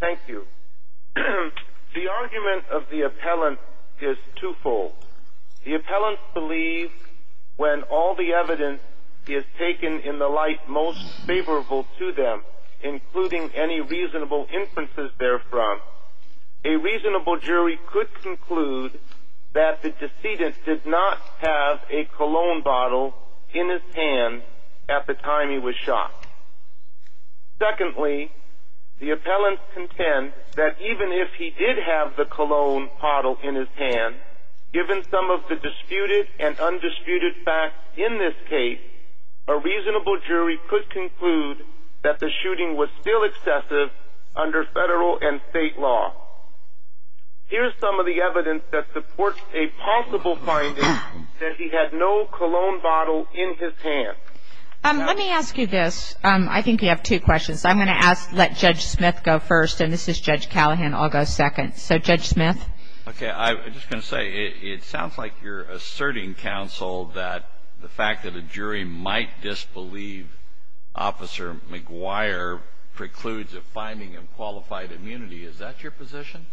Thank you. The argument of the appellant is twofold. The appellant believes when all the evidence is taken in the light most favorable to them, including any reasonable inferences therefrom, a reasonable jury could conclude that the decedent did not have a cologne bottle in his hand at the time he was shot. Secondly, the appellant contends that even if he did have the cologne bottle in his hand, given some of the disputed and undisputed facts in this case, a reasonable jury could conclude that the shooting was still excessive under federal and state law. Here is some of the evidence that supports a possible finding that he had no cologne bottle in his hand. Let me ask you this. I think you have two questions. I'm going to let Judge Smith go first, and this is Judge Callahan. I'll go second. So, Judge Smith? Okay. I was just going to say, it sounds like you're asserting, counsel, that the fact that a jury might disbelieve Officer McGuire precludes a finding of qualified immunity. Is that your position?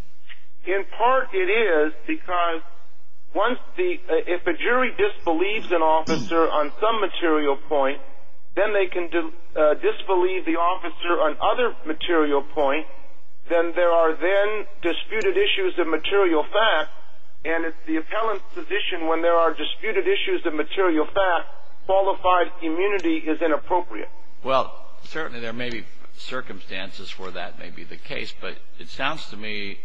In part it is, because if a jury disbelieves an officer on some material point, then they can disbelieve the officer on other material points. Then there are then disputed issues of material facts, and it's the appellant's position when there are disputed issues of material facts, qualified immunity is inappropriate. Well, certainly there may be circumstances where that may be the case, but it sounds to me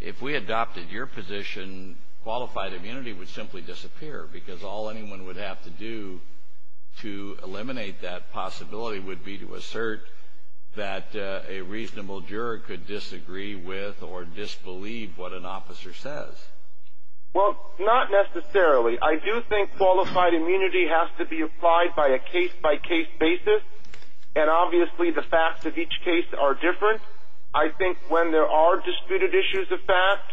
if we adopted your position, qualified immunity would simply disappear, because all anyone would have to do to eliminate that possibility would be to assert that a reasonable juror could disagree with or disbelieve what an officer says. Well, not necessarily. I do think qualified immunity has to be applied by a case-by-case basis, and obviously the facts of each case are different. I think when there are disputed issues of facts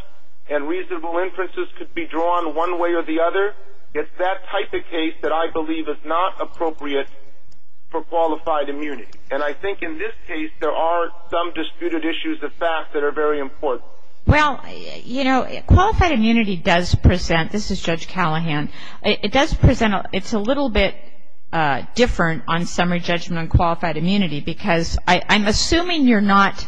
and reasonable inferences could be drawn one way or the other, it's that type of case that I believe is not appropriate for qualified immunity. And I think in this case there are some disputed issues of facts that are very important. Well, you know, qualified immunity does present, this is Judge Callahan, it does present, it's a little bit different on summary judgment on qualified immunity, because I'm assuming you're not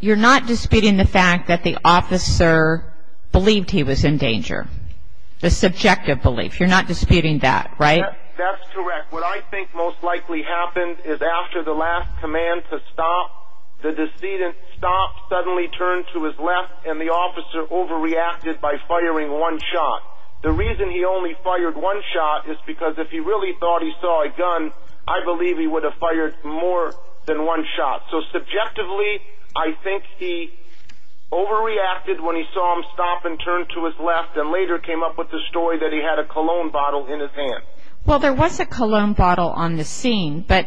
disputing the fact that the officer believed he was in danger, the subjective belief. You're not disputing that, right? That's correct. What I think most likely happened is after the last command to stop, the decedent stopped, suddenly turned to his left, and the officer overreacted by firing one shot. The reason he only fired one shot is because if he really thought he saw a gun, I believe he would have fired more than one shot. So subjectively I think he overreacted when he saw him stop and turn to his left and later came up with the story that he had a cologne bottle in his hand. Well, there was a cologne bottle on the scene, but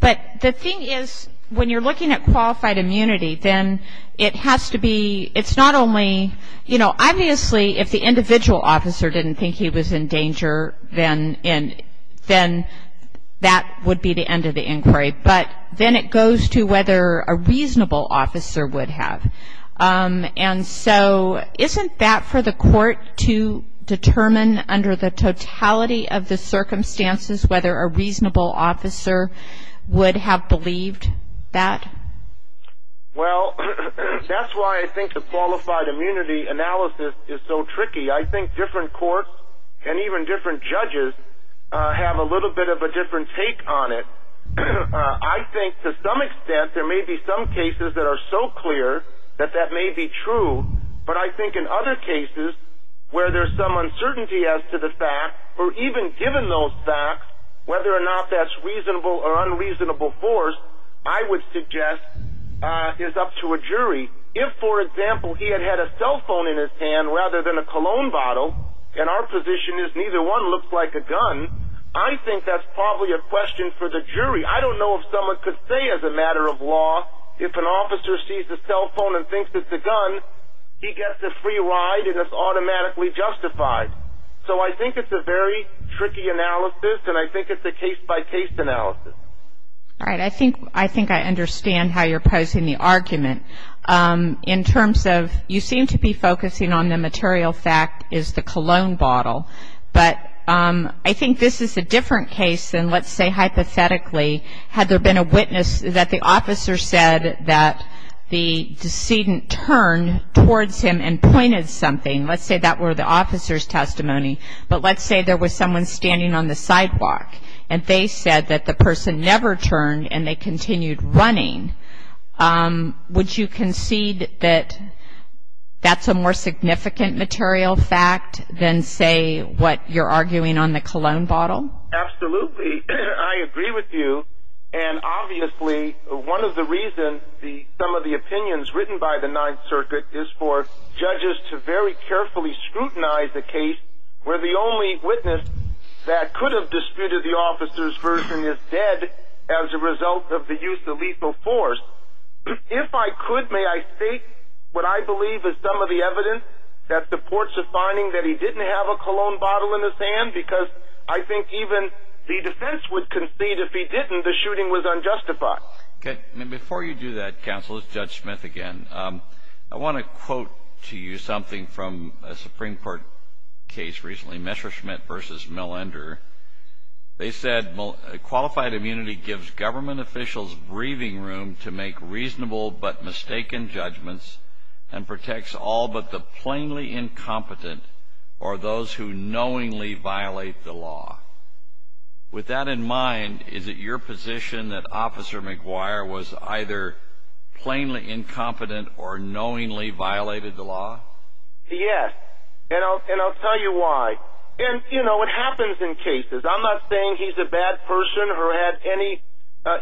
the thing is when you're looking at qualified immunity then it has to be, it's not only, you know, that would be the end of the inquiry. But then it goes to whether a reasonable officer would have. And so isn't that for the court to determine under the totality of the circumstances whether a reasonable officer would have believed that? Well, that's why I think the qualified immunity analysis is so tricky. I think different courts and even different judges have a little bit of a different take on it. I think to some extent there may be some cases that are so clear that that may be true, but I think in other cases where there's some uncertainty as to the fact, or even given those facts, whether or not that's reasonable or unreasonable force, if, for example, he had had a cell phone in his hand rather than a cologne bottle, and our position is neither one looks like a gun, I think that's probably a question for the jury. I don't know if someone could say as a matter of law if an officer sees a cell phone and thinks it's a gun, he gets a free ride and it's automatically justified. So I think it's a very tricky analysis, and I think it's a case-by-case analysis. All right. I think I understand how you're posing the argument. In terms of you seem to be focusing on the material fact is the cologne bottle, but I think this is a different case than, let's say, hypothetically, had there been a witness that the officer said that the decedent turned towards him and pointed something. Let's say that were the officer's testimony, but let's say there was someone standing on the sidewalk and they said that the person never turned and they continued running. Would you concede that that's a more significant material fact than, say, what you're arguing on the cologne bottle? Absolutely. I agree with you, and obviously one of the reasons some of the opinions written by the Ninth Circuit is for judges to very carefully scrutinize the case where the only witness that could have disputed the officer's version is dead as a result of the use of lethal force. If I could, may I state what I believe is some of the evidence that supports the finding that he didn't have a cologne bottle in his hand, because I think even the defense would concede if he didn't the shooting was unjustified. Okay. Before you do that, counsel, it's Judge Smith again. I want to quote to you something from a Supreme Court case recently, Messerschmitt v. Millender. They said, Qualified immunity gives government officials breathing room to make reasonable but mistaken judgments and protects all but the plainly incompetent or those who knowingly violate the law. With that in mind, is it your position that Officer McGuire was either plainly incompetent or knowingly violated the law? Yes, and I'll tell you why. And, you know, it happens in cases. I'm not saying he's a bad person or had any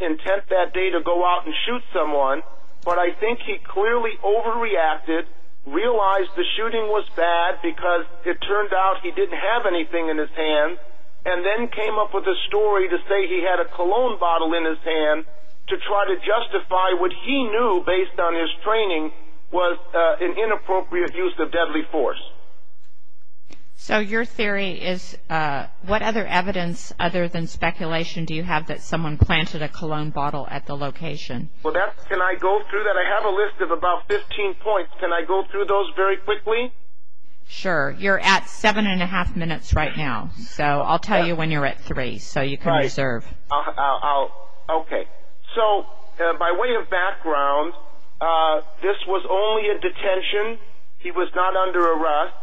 intent that day to go out and shoot someone, but I think he clearly overreacted, realized the shooting was bad because it turned out he didn't have anything in his hand, and then came up with a story to say he had a cologne bottle in his hand to try to justify what he knew, based on his training, was an inappropriate use of deadly force. So your theory is what other evidence, other than speculation, do you have that someone planted a cologne bottle at the location? Well, can I go through that? I have a list of about 15 points. Can I go through those very quickly? Sure. You're at seven and a half minutes right now, so I'll tell you when you're at three so you can reserve. Okay. So by way of background, this was only a detention. He was not under arrest.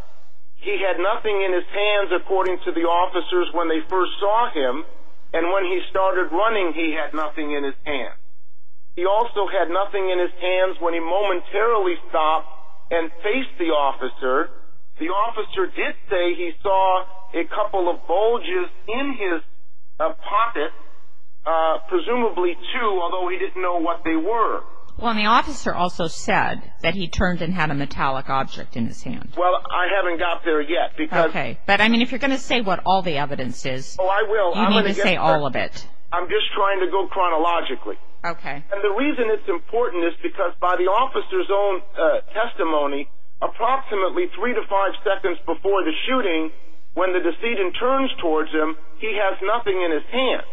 He had nothing in his hands, according to the officers when they first saw him, and when he started running, he had nothing in his hands. He also had nothing in his hands when he momentarily stopped and faced the officer. The officer did say he saw a couple of bulges in his pocket, presumably two, although he didn't know what they were. Well, and the officer also said that he turned and had a metallic object in his hand. Well, I haven't got there yet. Okay. But, I mean, if you're going to say what all the evidence is, you need to say all of it. I'm just trying to go chronologically. Okay. And the reason it's important is because by the officer's own testimony, approximately three to five seconds before the shooting, when the decedent turns towards him, he has nothing in his hand.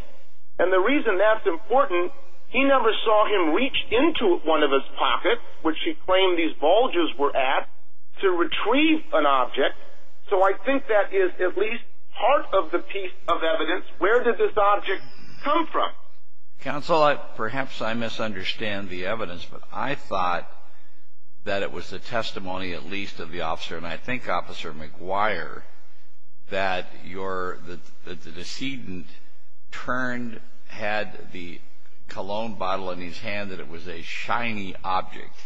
And the reason that's important, he never saw him reach into one of his pockets, which he claimed these bulges were at, to retrieve an object. So I think that is at least part of the piece of evidence. Where did this object come from? Counsel, perhaps I misunderstand the evidence, but I thought that it was the testimony at least of the officer, and I think Officer McGuire, that the decedent turned, had the cologne bottle in his hand, that it was a shiny object.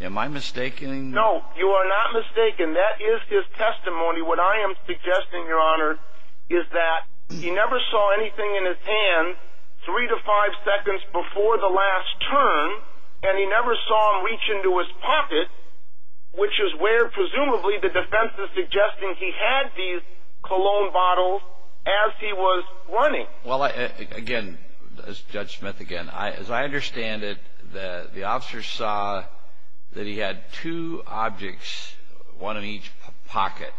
Am I mistaken? No, you are not mistaken. That is his testimony. What I am suggesting, Your Honor, is that he never saw anything in his hand three to five seconds before the last turn, and he never saw him reach into his pocket, which is where presumably the defense is suggesting he had these cologne bottles as he was running. Well, again, as Judge Smith, again, as I understand it, the officer saw that he had two objects, one in each pocket,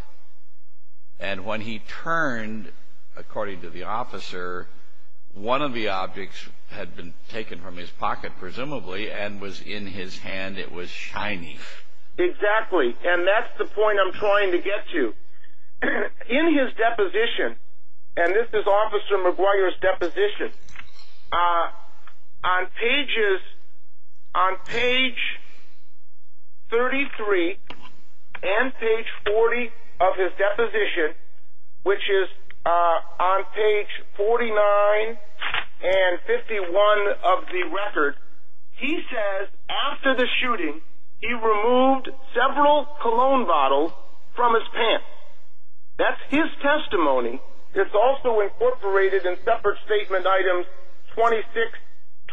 and when he turned, according to the officer, one of the objects had been taken from his pocket, presumably, and was in his hand. It was shiny. Exactly, and that's the point I'm trying to get to. On page 33 and page 40 of his deposition, which is on page 49 and 51 of the record, he says after the shooting he removed several cologne bottles from his pants. That's his testimony. It's also incorporated in separate statement items 26,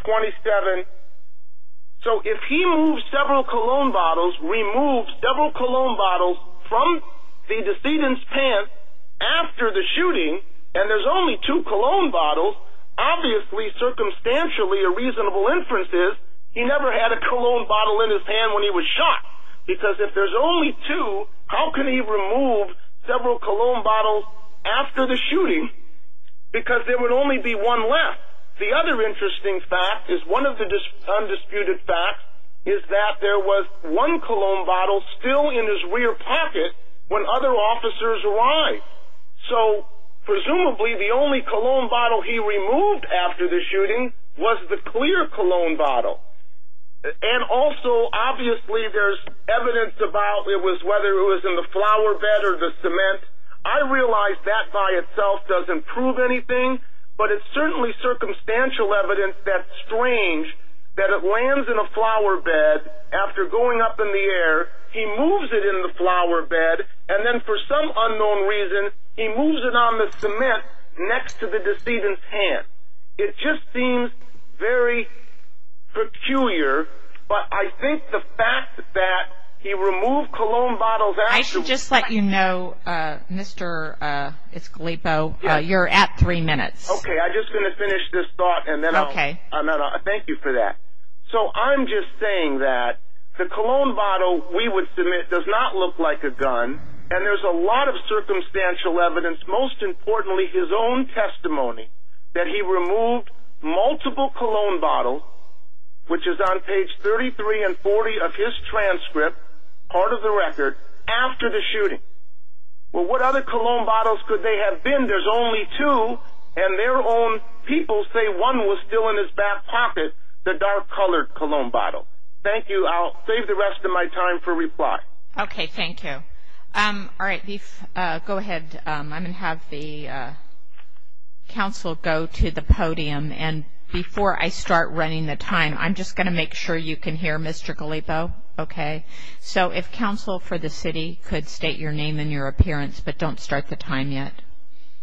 27. So if he moves several cologne bottles, removes several cologne bottles from the decedent's pants after the shooting, and there's only two cologne bottles, obviously circumstantially a reasonable inference is he never had a cologne bottle in his hand when he was shot, because if there's only two, how can he remove several cologne bottles after the shooting? Because there would only be one left. The other interesting fact is, one of the undisputed facts, is that there was one cologne bottle still in his rear pocket when other officers arrived. So presumably the only cologne bottle he removed after the shooting was the clear cologne bottle. And also obviously there's evidence about whether it was in the flower bed or the cement. I realize that by itself doesn't prove anything, but it's certainly circumstantial evidence that's strange that it lands in a flower bed after going up in the air, he moves it in the flower bed, and then for some unknown reason he moves it on the cement next to the decedent's pants. It just seems very peculiar, but I think the fact that he removed cologne bottles after the shooting... I should just let you know, Mr. Escalipo, you're at three minutes. Okay, I'm just going to finish this thought and then I'll... Okay. Thank you for that. So I'm just saying that the cologne bottle we would submit does not look like a gun, and there's a lot of circumstantial evidence, most importantly his own testimony, that he removed multiple cologne bottles, which is on page 33 and 40 of his transcript, part of the record, after the shooting. Well, what other cologne bottles could they have been? There's only two, and their own people say one was still in his back pocket, the dark-colored cologne bottle. Thank you. I'll save the rest of my time for reply. Okay, thank you. All right, go ahead. I'm going to have the counsel go to the podium, and before I start running the time, I'm just going to make sure you can hear Mr. Escalipo, okay? So if counsel for the city could state your name and your appearance, but don't start the time yet.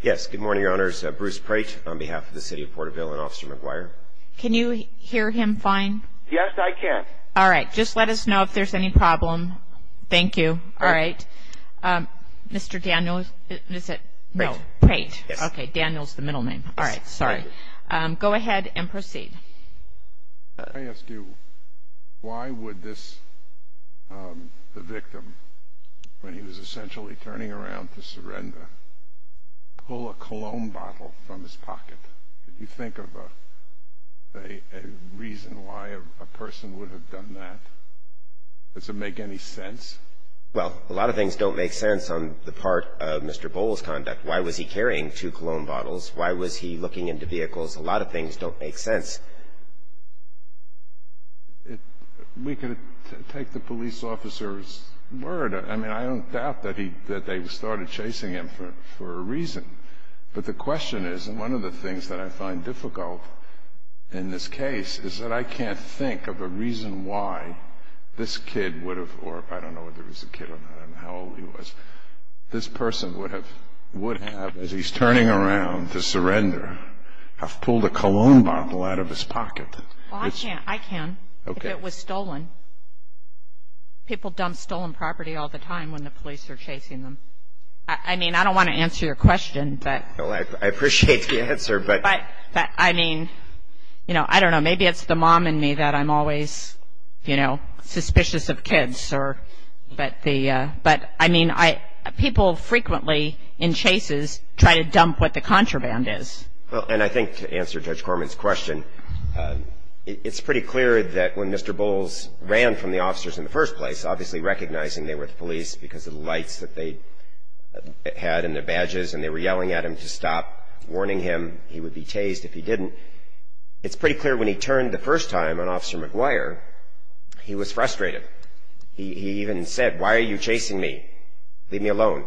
Yes, good morning, Your Honors. Bruce Precht on behalf of the city of Porterville and Officer McGuire. Can you hear him fine? Yes, I can. All right, just let us know if there's any problem. Thank you. All right. Mr. Daniel, is it? Precht. Precht. Okay, Daniel's the middle name. All right, sorry. Go ahead and proceed. Can I ask you, why would this, the victim, when he was essentially turning around to surrender, pull a cologne bottle from his pocket? Did you think of a reason why a person would have done that? Does it make any sense? Well, a lot of things don't make sense on the part of Mr. Bowles' conduct. Why was he carrying two cologne bottles? Why was he looking into vehicles? A lot of things don't make sense. We could take the police officer's word. I mean, I don't doubt that they started chasing him for a reason. But the question is, and one of the things that I find difficult in this case, is that I can't think of a reason why this kid would have, or I don't know whether he was a kid or not, I don't know how old he was, this person would have, as he's turning around to surrender, have pulled a cologne bottle out of his pocket. Well, I can. I can. Okay. If it was stolen. People dump stolen property all the time when the police are chasing them. I mean, I don't want to answer your question. Well, I appreciate the answer. But, I mean, you know, I don't know. Maybe it's the mom in me that I'm always, you know, suspicious of kids. But, I mean, people frequently in chases try to dump what the contraband is. Well, and I think to answer Judge Corman's question, it's pretty clear that when Mr. Bowles ran from the officers in the first place, obviously recognizing they were the police because of the lights that they had in their badges and they were yelling at him to stop, warning him he would be tased if he didn't, it's pretty clear when he turned the first time on Officer McGuire, he was frustrated. He even said, why are you chasing me? Leave me alone.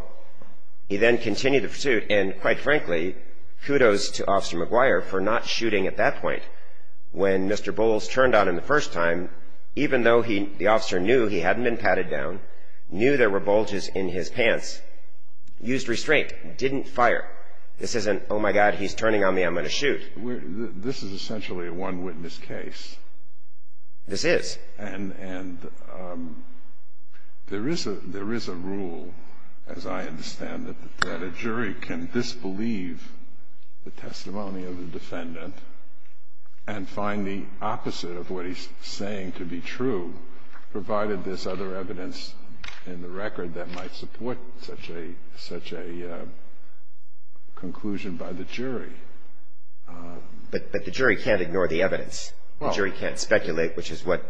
He then continued the pursuit and, quite frankly, kudos to Officer McGuire for not shooting at that point. When Mr. Bowles turned on him the first time, even though the officer knew he hadn't been patted down, knew there were bulges in his pants, used restraint, didn't fire. This isn't, oh, my God, he's turning on me, I'm going to shoot. This is essentially a one-witness case. This is. And there is a rule, as I understand it, that a jury can disbelieve the testimony of the defendant and find the opposite of what he's saying to be true, provided there's other evidence in the record that might support such a conclusion by the jury. But the jury can't ignore the evidence. The jury can't speculate, which is what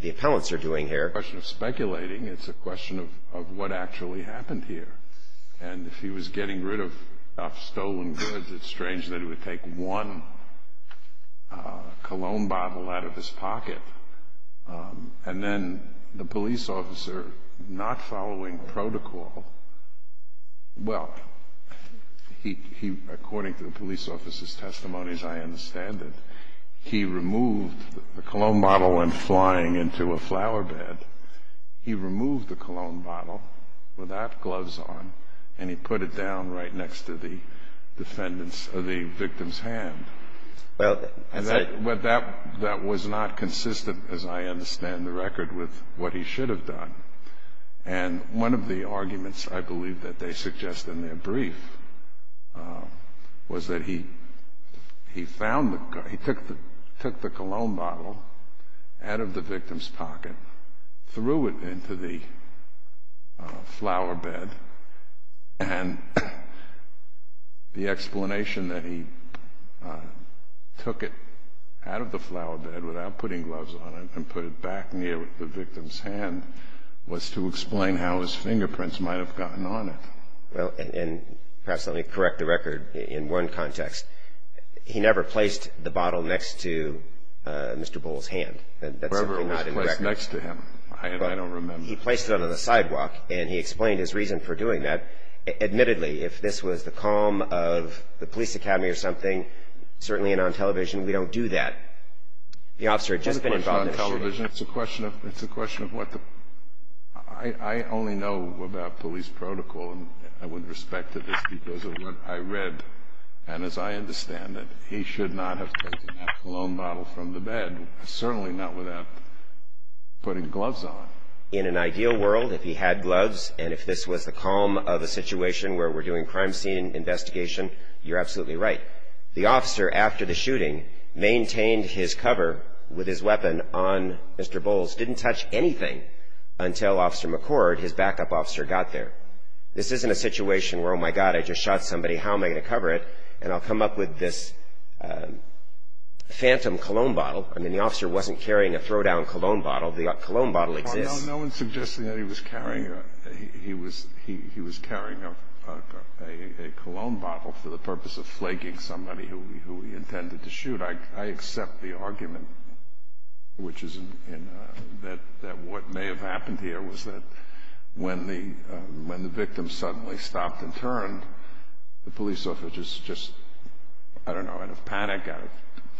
the appellants are doing here. It's not a question of speculating. It's a question of what actually happened here. And if he was getting rid of stolen goods, it's strange that he would take one cologne bottle out of his pocket. And then the police officer, not following protocol, well, according to the police officer's testimonies, I understand it, he removed the cologne bottle when flying into a flower bed. He removed the cologne bottle with that gloves on, and he put it down right next to the victim's hand. That was not consistent, as I understand the record, with what he should have done. And one of the arguments, I believe, that they suggest in their brief was that he took the cologne bottle out of the victim's pocket, threw it into the flower bed, and the explanation that he took it out of the flower bed without putting gloves on it and put it back near the victim's hand was to explain how his fingerprints might have gotten on it. Well, and perhaps let me correct the record in one context. He never placed the bottle next to Mr. Bull's hand. Wherever it was placed next to him, I don't remember. He placed it on the sidewalk, and he explained his reason for doing that. Admittedly, if this was the calm of the police academy or something, certainly on television, we don't do that. The officer had just been involved in a shooting. It's a question of television. It's a question of what the – I only know about police protocol and with respect to this because of what I read. And as I understand it, he should not have taken that cologne bottle from the bed, certainly not without putting gloves on. In an ideal world, if he had gloves and if this was the calm of a situation where we're doing crime scene investigation, you're absolutely right. The officer, after the shooting, maintained his cover with his weapon on Mr. Bull's, didn't touch anything until Officer McCord, his backup officer, got there. This isn't a situation where, oh, my God, I just shot somebody. How am I going to cover it? And I'll come up with this phantom cologne bottle. I mean, the officer wasn't carrying a throw-down cologne bottle. The cologne bottle exists. No one's suggesting that he was carrying a cologne bottle for the purpose of flaking somebody who he intended to shoot. I accept the argument, which is that what may have happened here was that when the victim suddenly stopped and turned, the police officer just, I don't know, out of panic, out of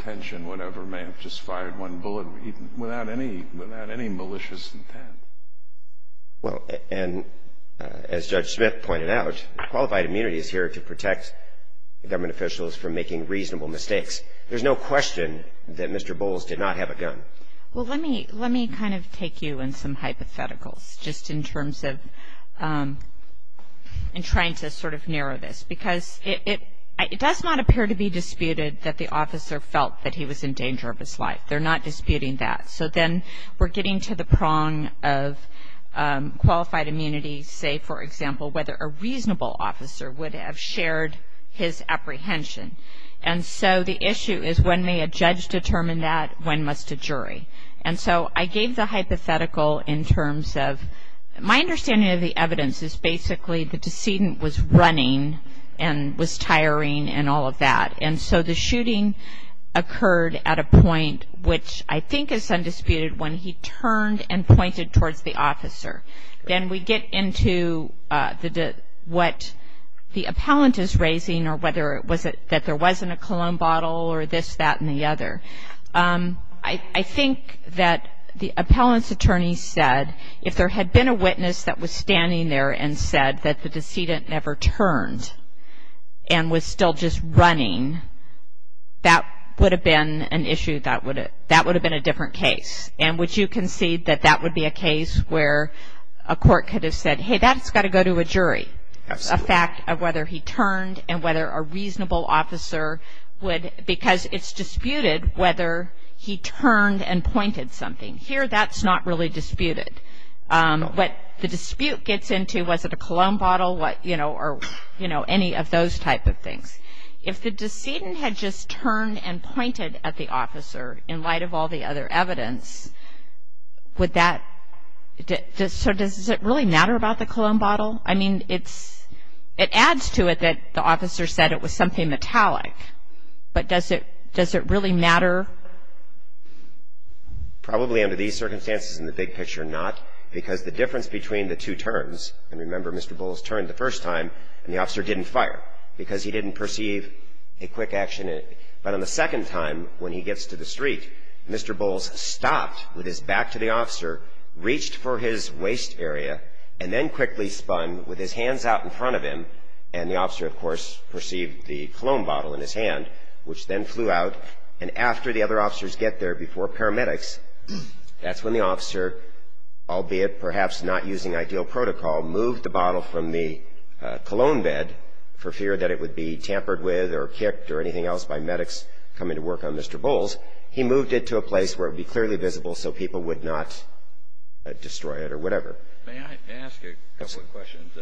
tension, whatever, may have just fired one bullet without any malicious intent. Well, and as Judge Smith pointed out, qualified immunity is here to protect government officials from making reasonable mistakes. There's no question that Mr. Bulls did not have a gun. Well, let me kind of take you in some hypotheticals just in terms of in trying to sort of narrow this, because it does not appear to be disputed that the officer felt that he was in danger of his life. They're not disputing that. So then we're getting to the prong of qualified immunity, say, for example, whether a reasonable officer would have shared his apprehension. And so the issue is when may a judge determine that, when must a jury? And so I gave the hypothetical in terms of my understanding of the evidence is basically the decedent was running and was tiring and all of that, and so the shooting occurred at a point which I think is undisputed when he turned and pointed towards the officer. Then we get into what the appellant is raising or whether it was that there wasn't a cologne bottle or this, that, and the other. I think that the appellant's attorney said if there had been a witness that was standing there and said that the decedent never turned and was still just running, that would have been an issue, that would have been a different case. And would you concede that that would be a case where a court could have said, hey, that's got to go to a jury, a fact of whether he turned and whether a reasonable officer would, because it's disputed whether he turned and pointed something. Here that's not really disputed. What the dispute gets into, was it a cologne bottle or, you know, any of those type of things. If the decedent had just turned and pointed at the officer in light of all the other evidence, would that, so does it really matter about the cologne bottle? I mean, it adds to it that the officer said it was something metallic, but does it really matter? Probably under these circumstances in the big picture, not, because the difference between the two turns, and remember Mr. Bowles turned the first time and the officer didn't fire because he didn't perceive a quick action in it. But on the second time when he gets to the street, Mr. Bowles stopped with his back to the officer, reached for his waist area, and then quickly spun with his hands out in front of him, and the officer, of course, perceived the cologne bottle in his hand, which then flew out, and after the other officers get there before paramedics, that's when the officer, albeit perhaps not using ideal protocol, moved the bottle from the cologne bed for fear that it would be tampered with or kicked or anything else by medics coming to work on Mr. Bowles. He moved it to a place where it would be clearly visible so people would not destroy it or whatever. May I ask a couple of questions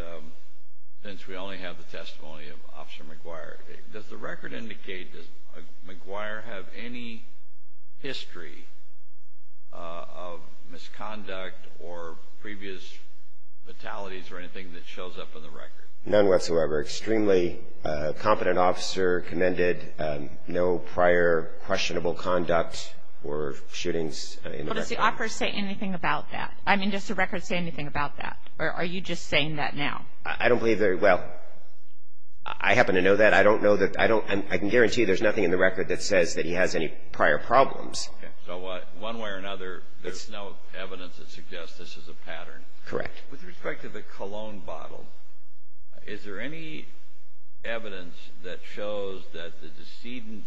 since we only have the testimony of Officer McGuire? Does the record indicate, does McGuire have any history of misconduct or previous fatalities or anything that shows up in the record? None whatsoever. Extremely competent officer, commended, no prior questionable conduct or shootings in the record. Well, does the offer say anything about that? I mean, does the record say anything about that, or are you just saying that now? I don't believe very well. I happen to know that. I don't know that. I can guarantee you there's nothing in the record that says that he has any prior problems. So one way or another, there's no evidence that suggests this is a pattern. Correct. With respect to the cologne bottle, is there any evidence that shows that the decedent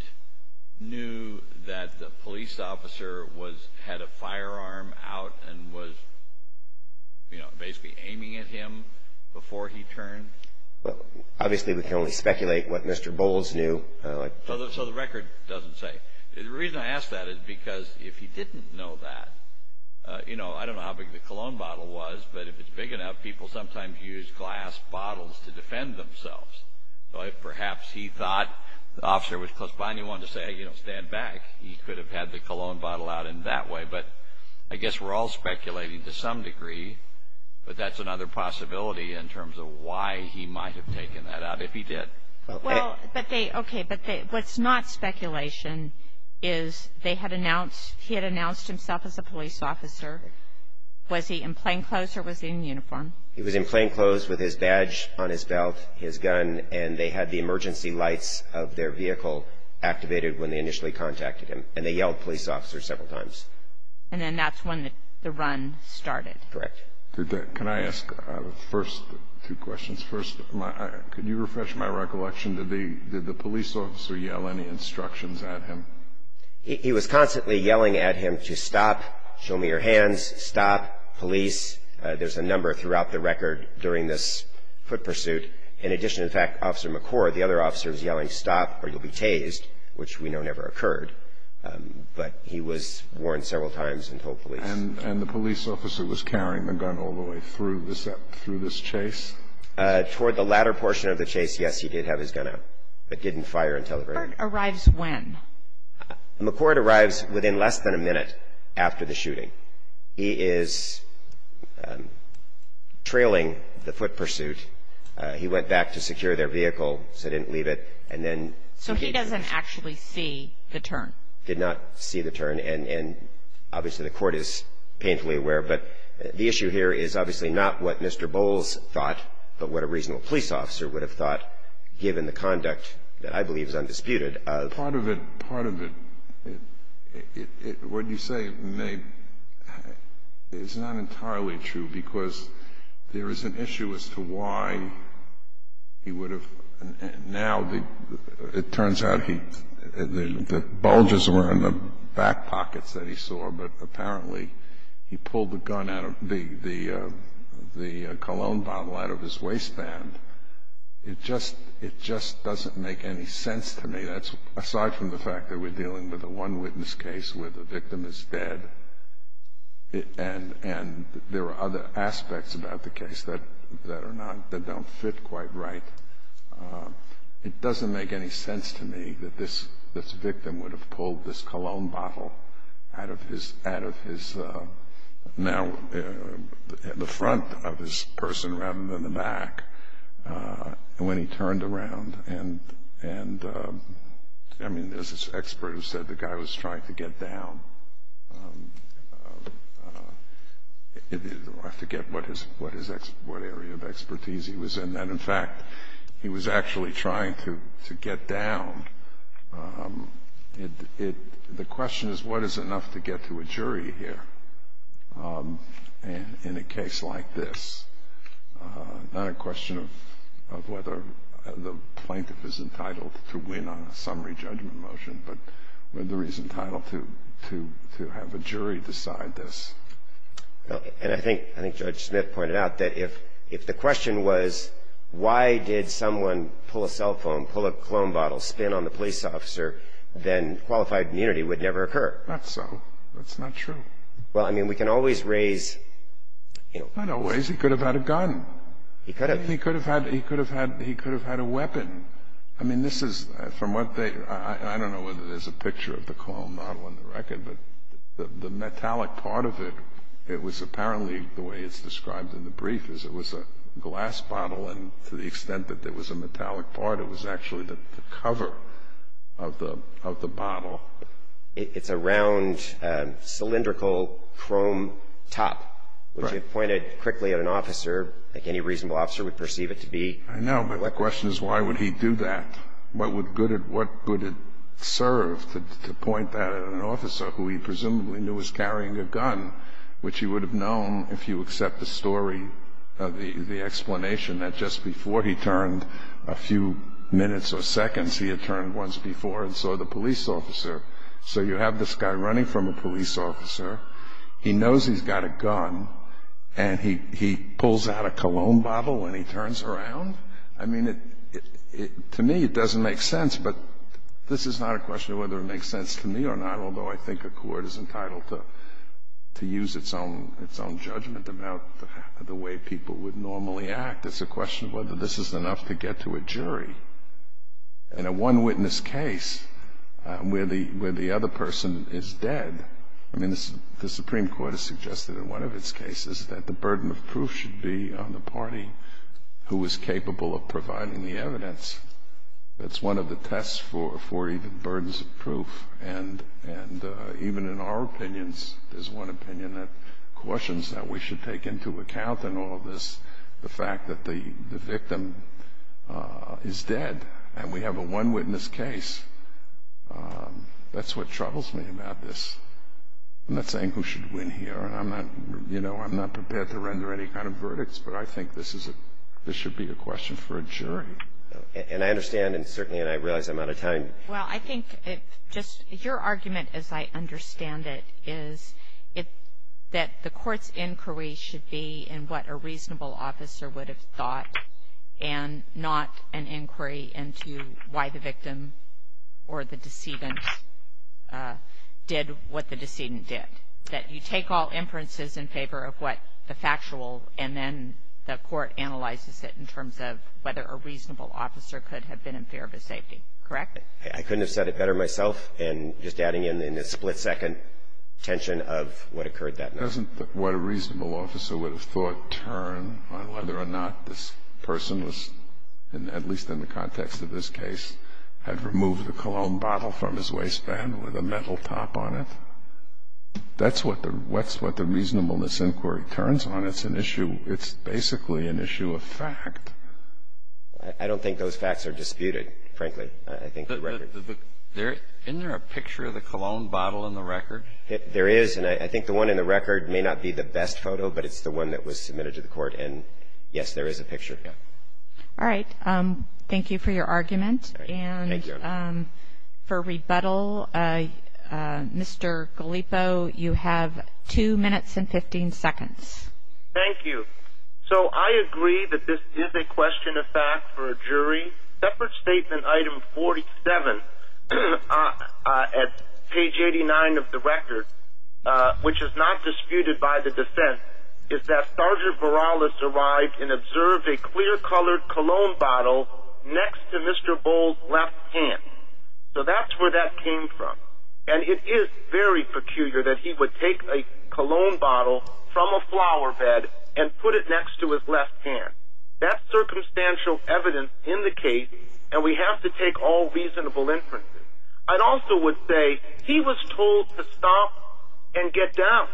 knew that the police officer had a firearm out and was basically aiming at him before he turned? Obviously, we can only speculate what Mr. Bowles knew. So the record doesn't say. The reason I ask that is because if he didn't know that, I don't know how big the cologne bottle was, but if it's big enough, people sometimes use glass bottles to defend themselves. Perhaps he thought the officer was close by and he wanted to say, you know, stand back. He could have had the cologne bottle out in that way. But I guess we're all speculating to some degree, but that's another possibility in terms of why he might have taken that out if he did. Well, okay, but what's not speculation is he had announced himself as a police officer. Was he in plainclothes or was he in uniform? He was in plainclothes with his badge on his belt, his gun, and they had the emergency lights of their vehicle activated when they initially contacted him, and they yelled police officer several times. And then that's when the run started. Correct. Can I ask first two questions? First, could you refresh my recollection? Did the police officer yell any instructions at him? He was constantly yelling at him to stop, show me your hands, stop, police. There's a number throughout the record during this foot pursuit. In addition, in fact, Officer McCord, the other officer, was yelling stop or you'll be tased, which we know never occurred. But he was warned several times and told police. And the police officer was carrying the gun all the way through this chase? Toward the latter portion of the chase, yes, he did have his gun out, but didn't fire until the very end. When? McCord arrives within less than a minute after the shooting. He is trailing the foot pursuit. He went back to secure their vehicle, so he didn't leave it. So he doesn't actually see the turn? Did not see the turn. And obviously the court is painfully aware. But the issue here is obviously not what Mr. Bowles thought, but what a reasonable police officer would have thought given the conduct that I believe is undisputed of. Part of it, part of it, what you say is not entirely true, because there is an issue as to why he would have. Now it turns out the bulges were in the back pockets that he saw, but apparently he pulled the cologne bottle out of his waistband. It just doesn't make any sense to me. Aside from the fact that we're dealing with a one witness case where the victim is dead and there are other aspects about the case that are not, that don't fit quite right, it doesn't make any sense to me that this victim would have pulled this cologne bottle out of his, now the front of his person rather than the back when he turned around and, I mean, there's this expert who said the guy was trying to get down. I forget what area of expertise he was in. In fact, he was actually trying to get down. The question is what is enough to get to a jury here in a case like this. Not a question of whether the plaintiff is entitled to win on a summary judgment motion, but whether he's entitled to have a jury decide this. And I think Judge Smith pointed out that if the question was, why did someone pull a cell phone, pull a cologne bottle, spin on the police officer, then qualified immunity would never occur. Not so. That's not true. Well, I mean, we can always raise, you know. Not always. He could have had a gun. He could have. He could have had a weapon. I mean, this is, from what they, I don't know whether there's a picture of the cologne bottle on the record, but the metallic part of it, it was apparently, the way it's described in the brief, is it was a glass bottle and to the extent that there was a metallic part, it was actually the cover of the bottle. It's a round cylindrical chrome top, which you pointed quickly at an officer, like any reasonable officer would perceive it to be. I know, but the question is, why would he do that? What would it serve to point that at an officer who he presumably knew was carrying a gun, which he would have known if you accept the story, the explanation, that just before he turned a few minutes or seconds, he had turned once before and saw the police officer. So you have this guy running from a police officer. He knows he's got a gun, and he pulls out a cologne bottle when he turns around? I mean, to me, it doesn't make sense, but this is not a question of whether it makes sense to me or not, although I think a court is entitled to use its own judgment about the way people would normally act. It's a question of whether this is enough to get to a jury. In a one-witness case where the other person is dead, I mean, the Supreme Court has suggested in one of its cases that the burden of proof should be on the party who is capable of providing the evidence. That's one of the tests for even burdens of proof, and even in our opinions, there's one opinion that cautions that we should take into account in all of this is the fact that the victim is dead, and we have a one-witness case. That's what troubles me about this. I'm not saying who should win here, and I'm not prepared to render any kind of verdicts, but I think this should be a question for a jury. And I understand, and certainly I realize I'm out of time. Well, I think just your argument, as I understand it, is that the court's inquiry should be in what a reasonable officer would have thought and not an inquiry into why the victim or the decedent did what the decedent did. That you take all inferences in favor of what the factual, and then the court analyzes it in terms of whether a reasonable officer could have been in favor of his safety. Correct? I couldn't have said it better myself in just adding in the split-second tension of what occurred that night. Doesn't what a reasonable officer would have thought turn on whether or not this person was, at least in the context of this case, had removed the cologne bottle from his waistband with a metal top on it? That's what the reasonableness inquiry turns on. It's an issue. It's basically an issue of fact. I don't think those facts are disputed, frankly. Isn't there a picture of the cologne bottle in the record? There is, and I think the one in the record may not be the best photo, but it's the one that was submitted to the court. And, yes, there is a picture. All right. Thank you for your argument. And for rebuttal, Mr. Gallipo, you have 2 minutes and 15 seconds. Thank you. So I agree that this is a question of fact for a jury. Separate statement item 47 at page 89 of the record, which is not disputed by the defense, is that Sergeant Borales arrived and observed a clear-colored cologne bottle next to Mr. Bowles' left hand. So that's where that came from. And it is very peculiar that he would take a cologne bottle from a flower bed and put it next to his left hand. That's circumstantial evidence in the case, and we have to take all reasonable inferences. I also would say he was told to stop and get down.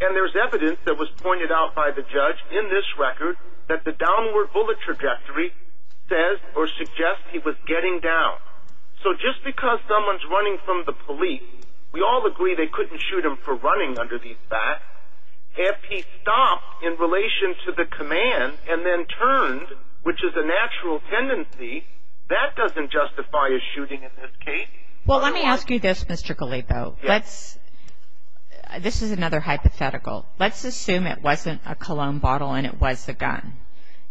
And there's evidence that was pointed out by the judge in this record that the downward bullet trajectory says or suggests he was getting down. So just because someone's running from the police, we all agree they couldn't shoot him for running under these facts. If he stopped in relation to the command and then turned, which is a natural tendency, that doesn't justify a shooting in this case. Well, let me ask you this, Mr. Gallipo. This is another hypothetical. Let's assume it wasn't a cologne bottle and it was a gun.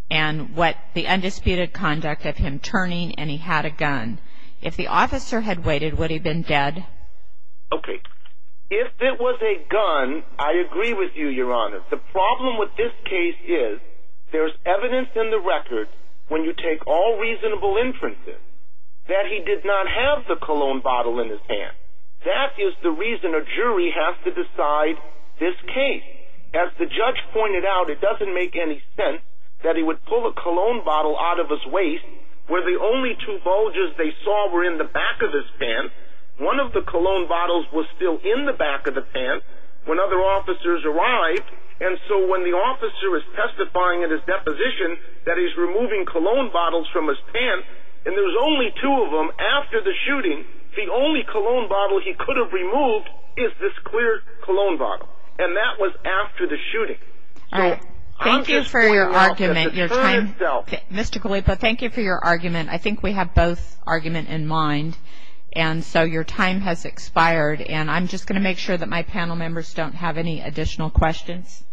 And what the undisputed conduct of him turning and he had a gun. If the officer had waited, would he have been dead? Okay. If it was a gun, I agree with you, Your Honor. The problem with this case is there's evidence in the record, when you take all reasonable inferences, that he did not have the cologne bottle in his hand. That is the reason a jury has to decide this case. As the judge pointed out, it doesn't make any sense that he would pull a cologne bottle out of his waist where the only two bulges they saw were in the back of his pants. One of the cologne bottles was still in the back of the pants when other officers arrived. And so when the officer is testifying in his deposition that he's removing cologne bottles from his pants, and there's only two of them after the shooting, the only cologne bottle he could have removed is this clear cologne bottle. And that was after the shooting. All right. Thank you for your argument. Mr. Gallipa, thank you for your argument. I think we have both argument in mind. And so your time has expired, and I'm just going to make sure that my panel members don't have any additional questions.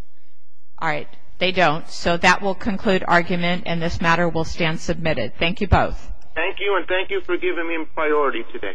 All right. They don't. So that will conclude argument, and this matter will stand submitted. Thank you both. Thank you, and thank you for giving me priority today.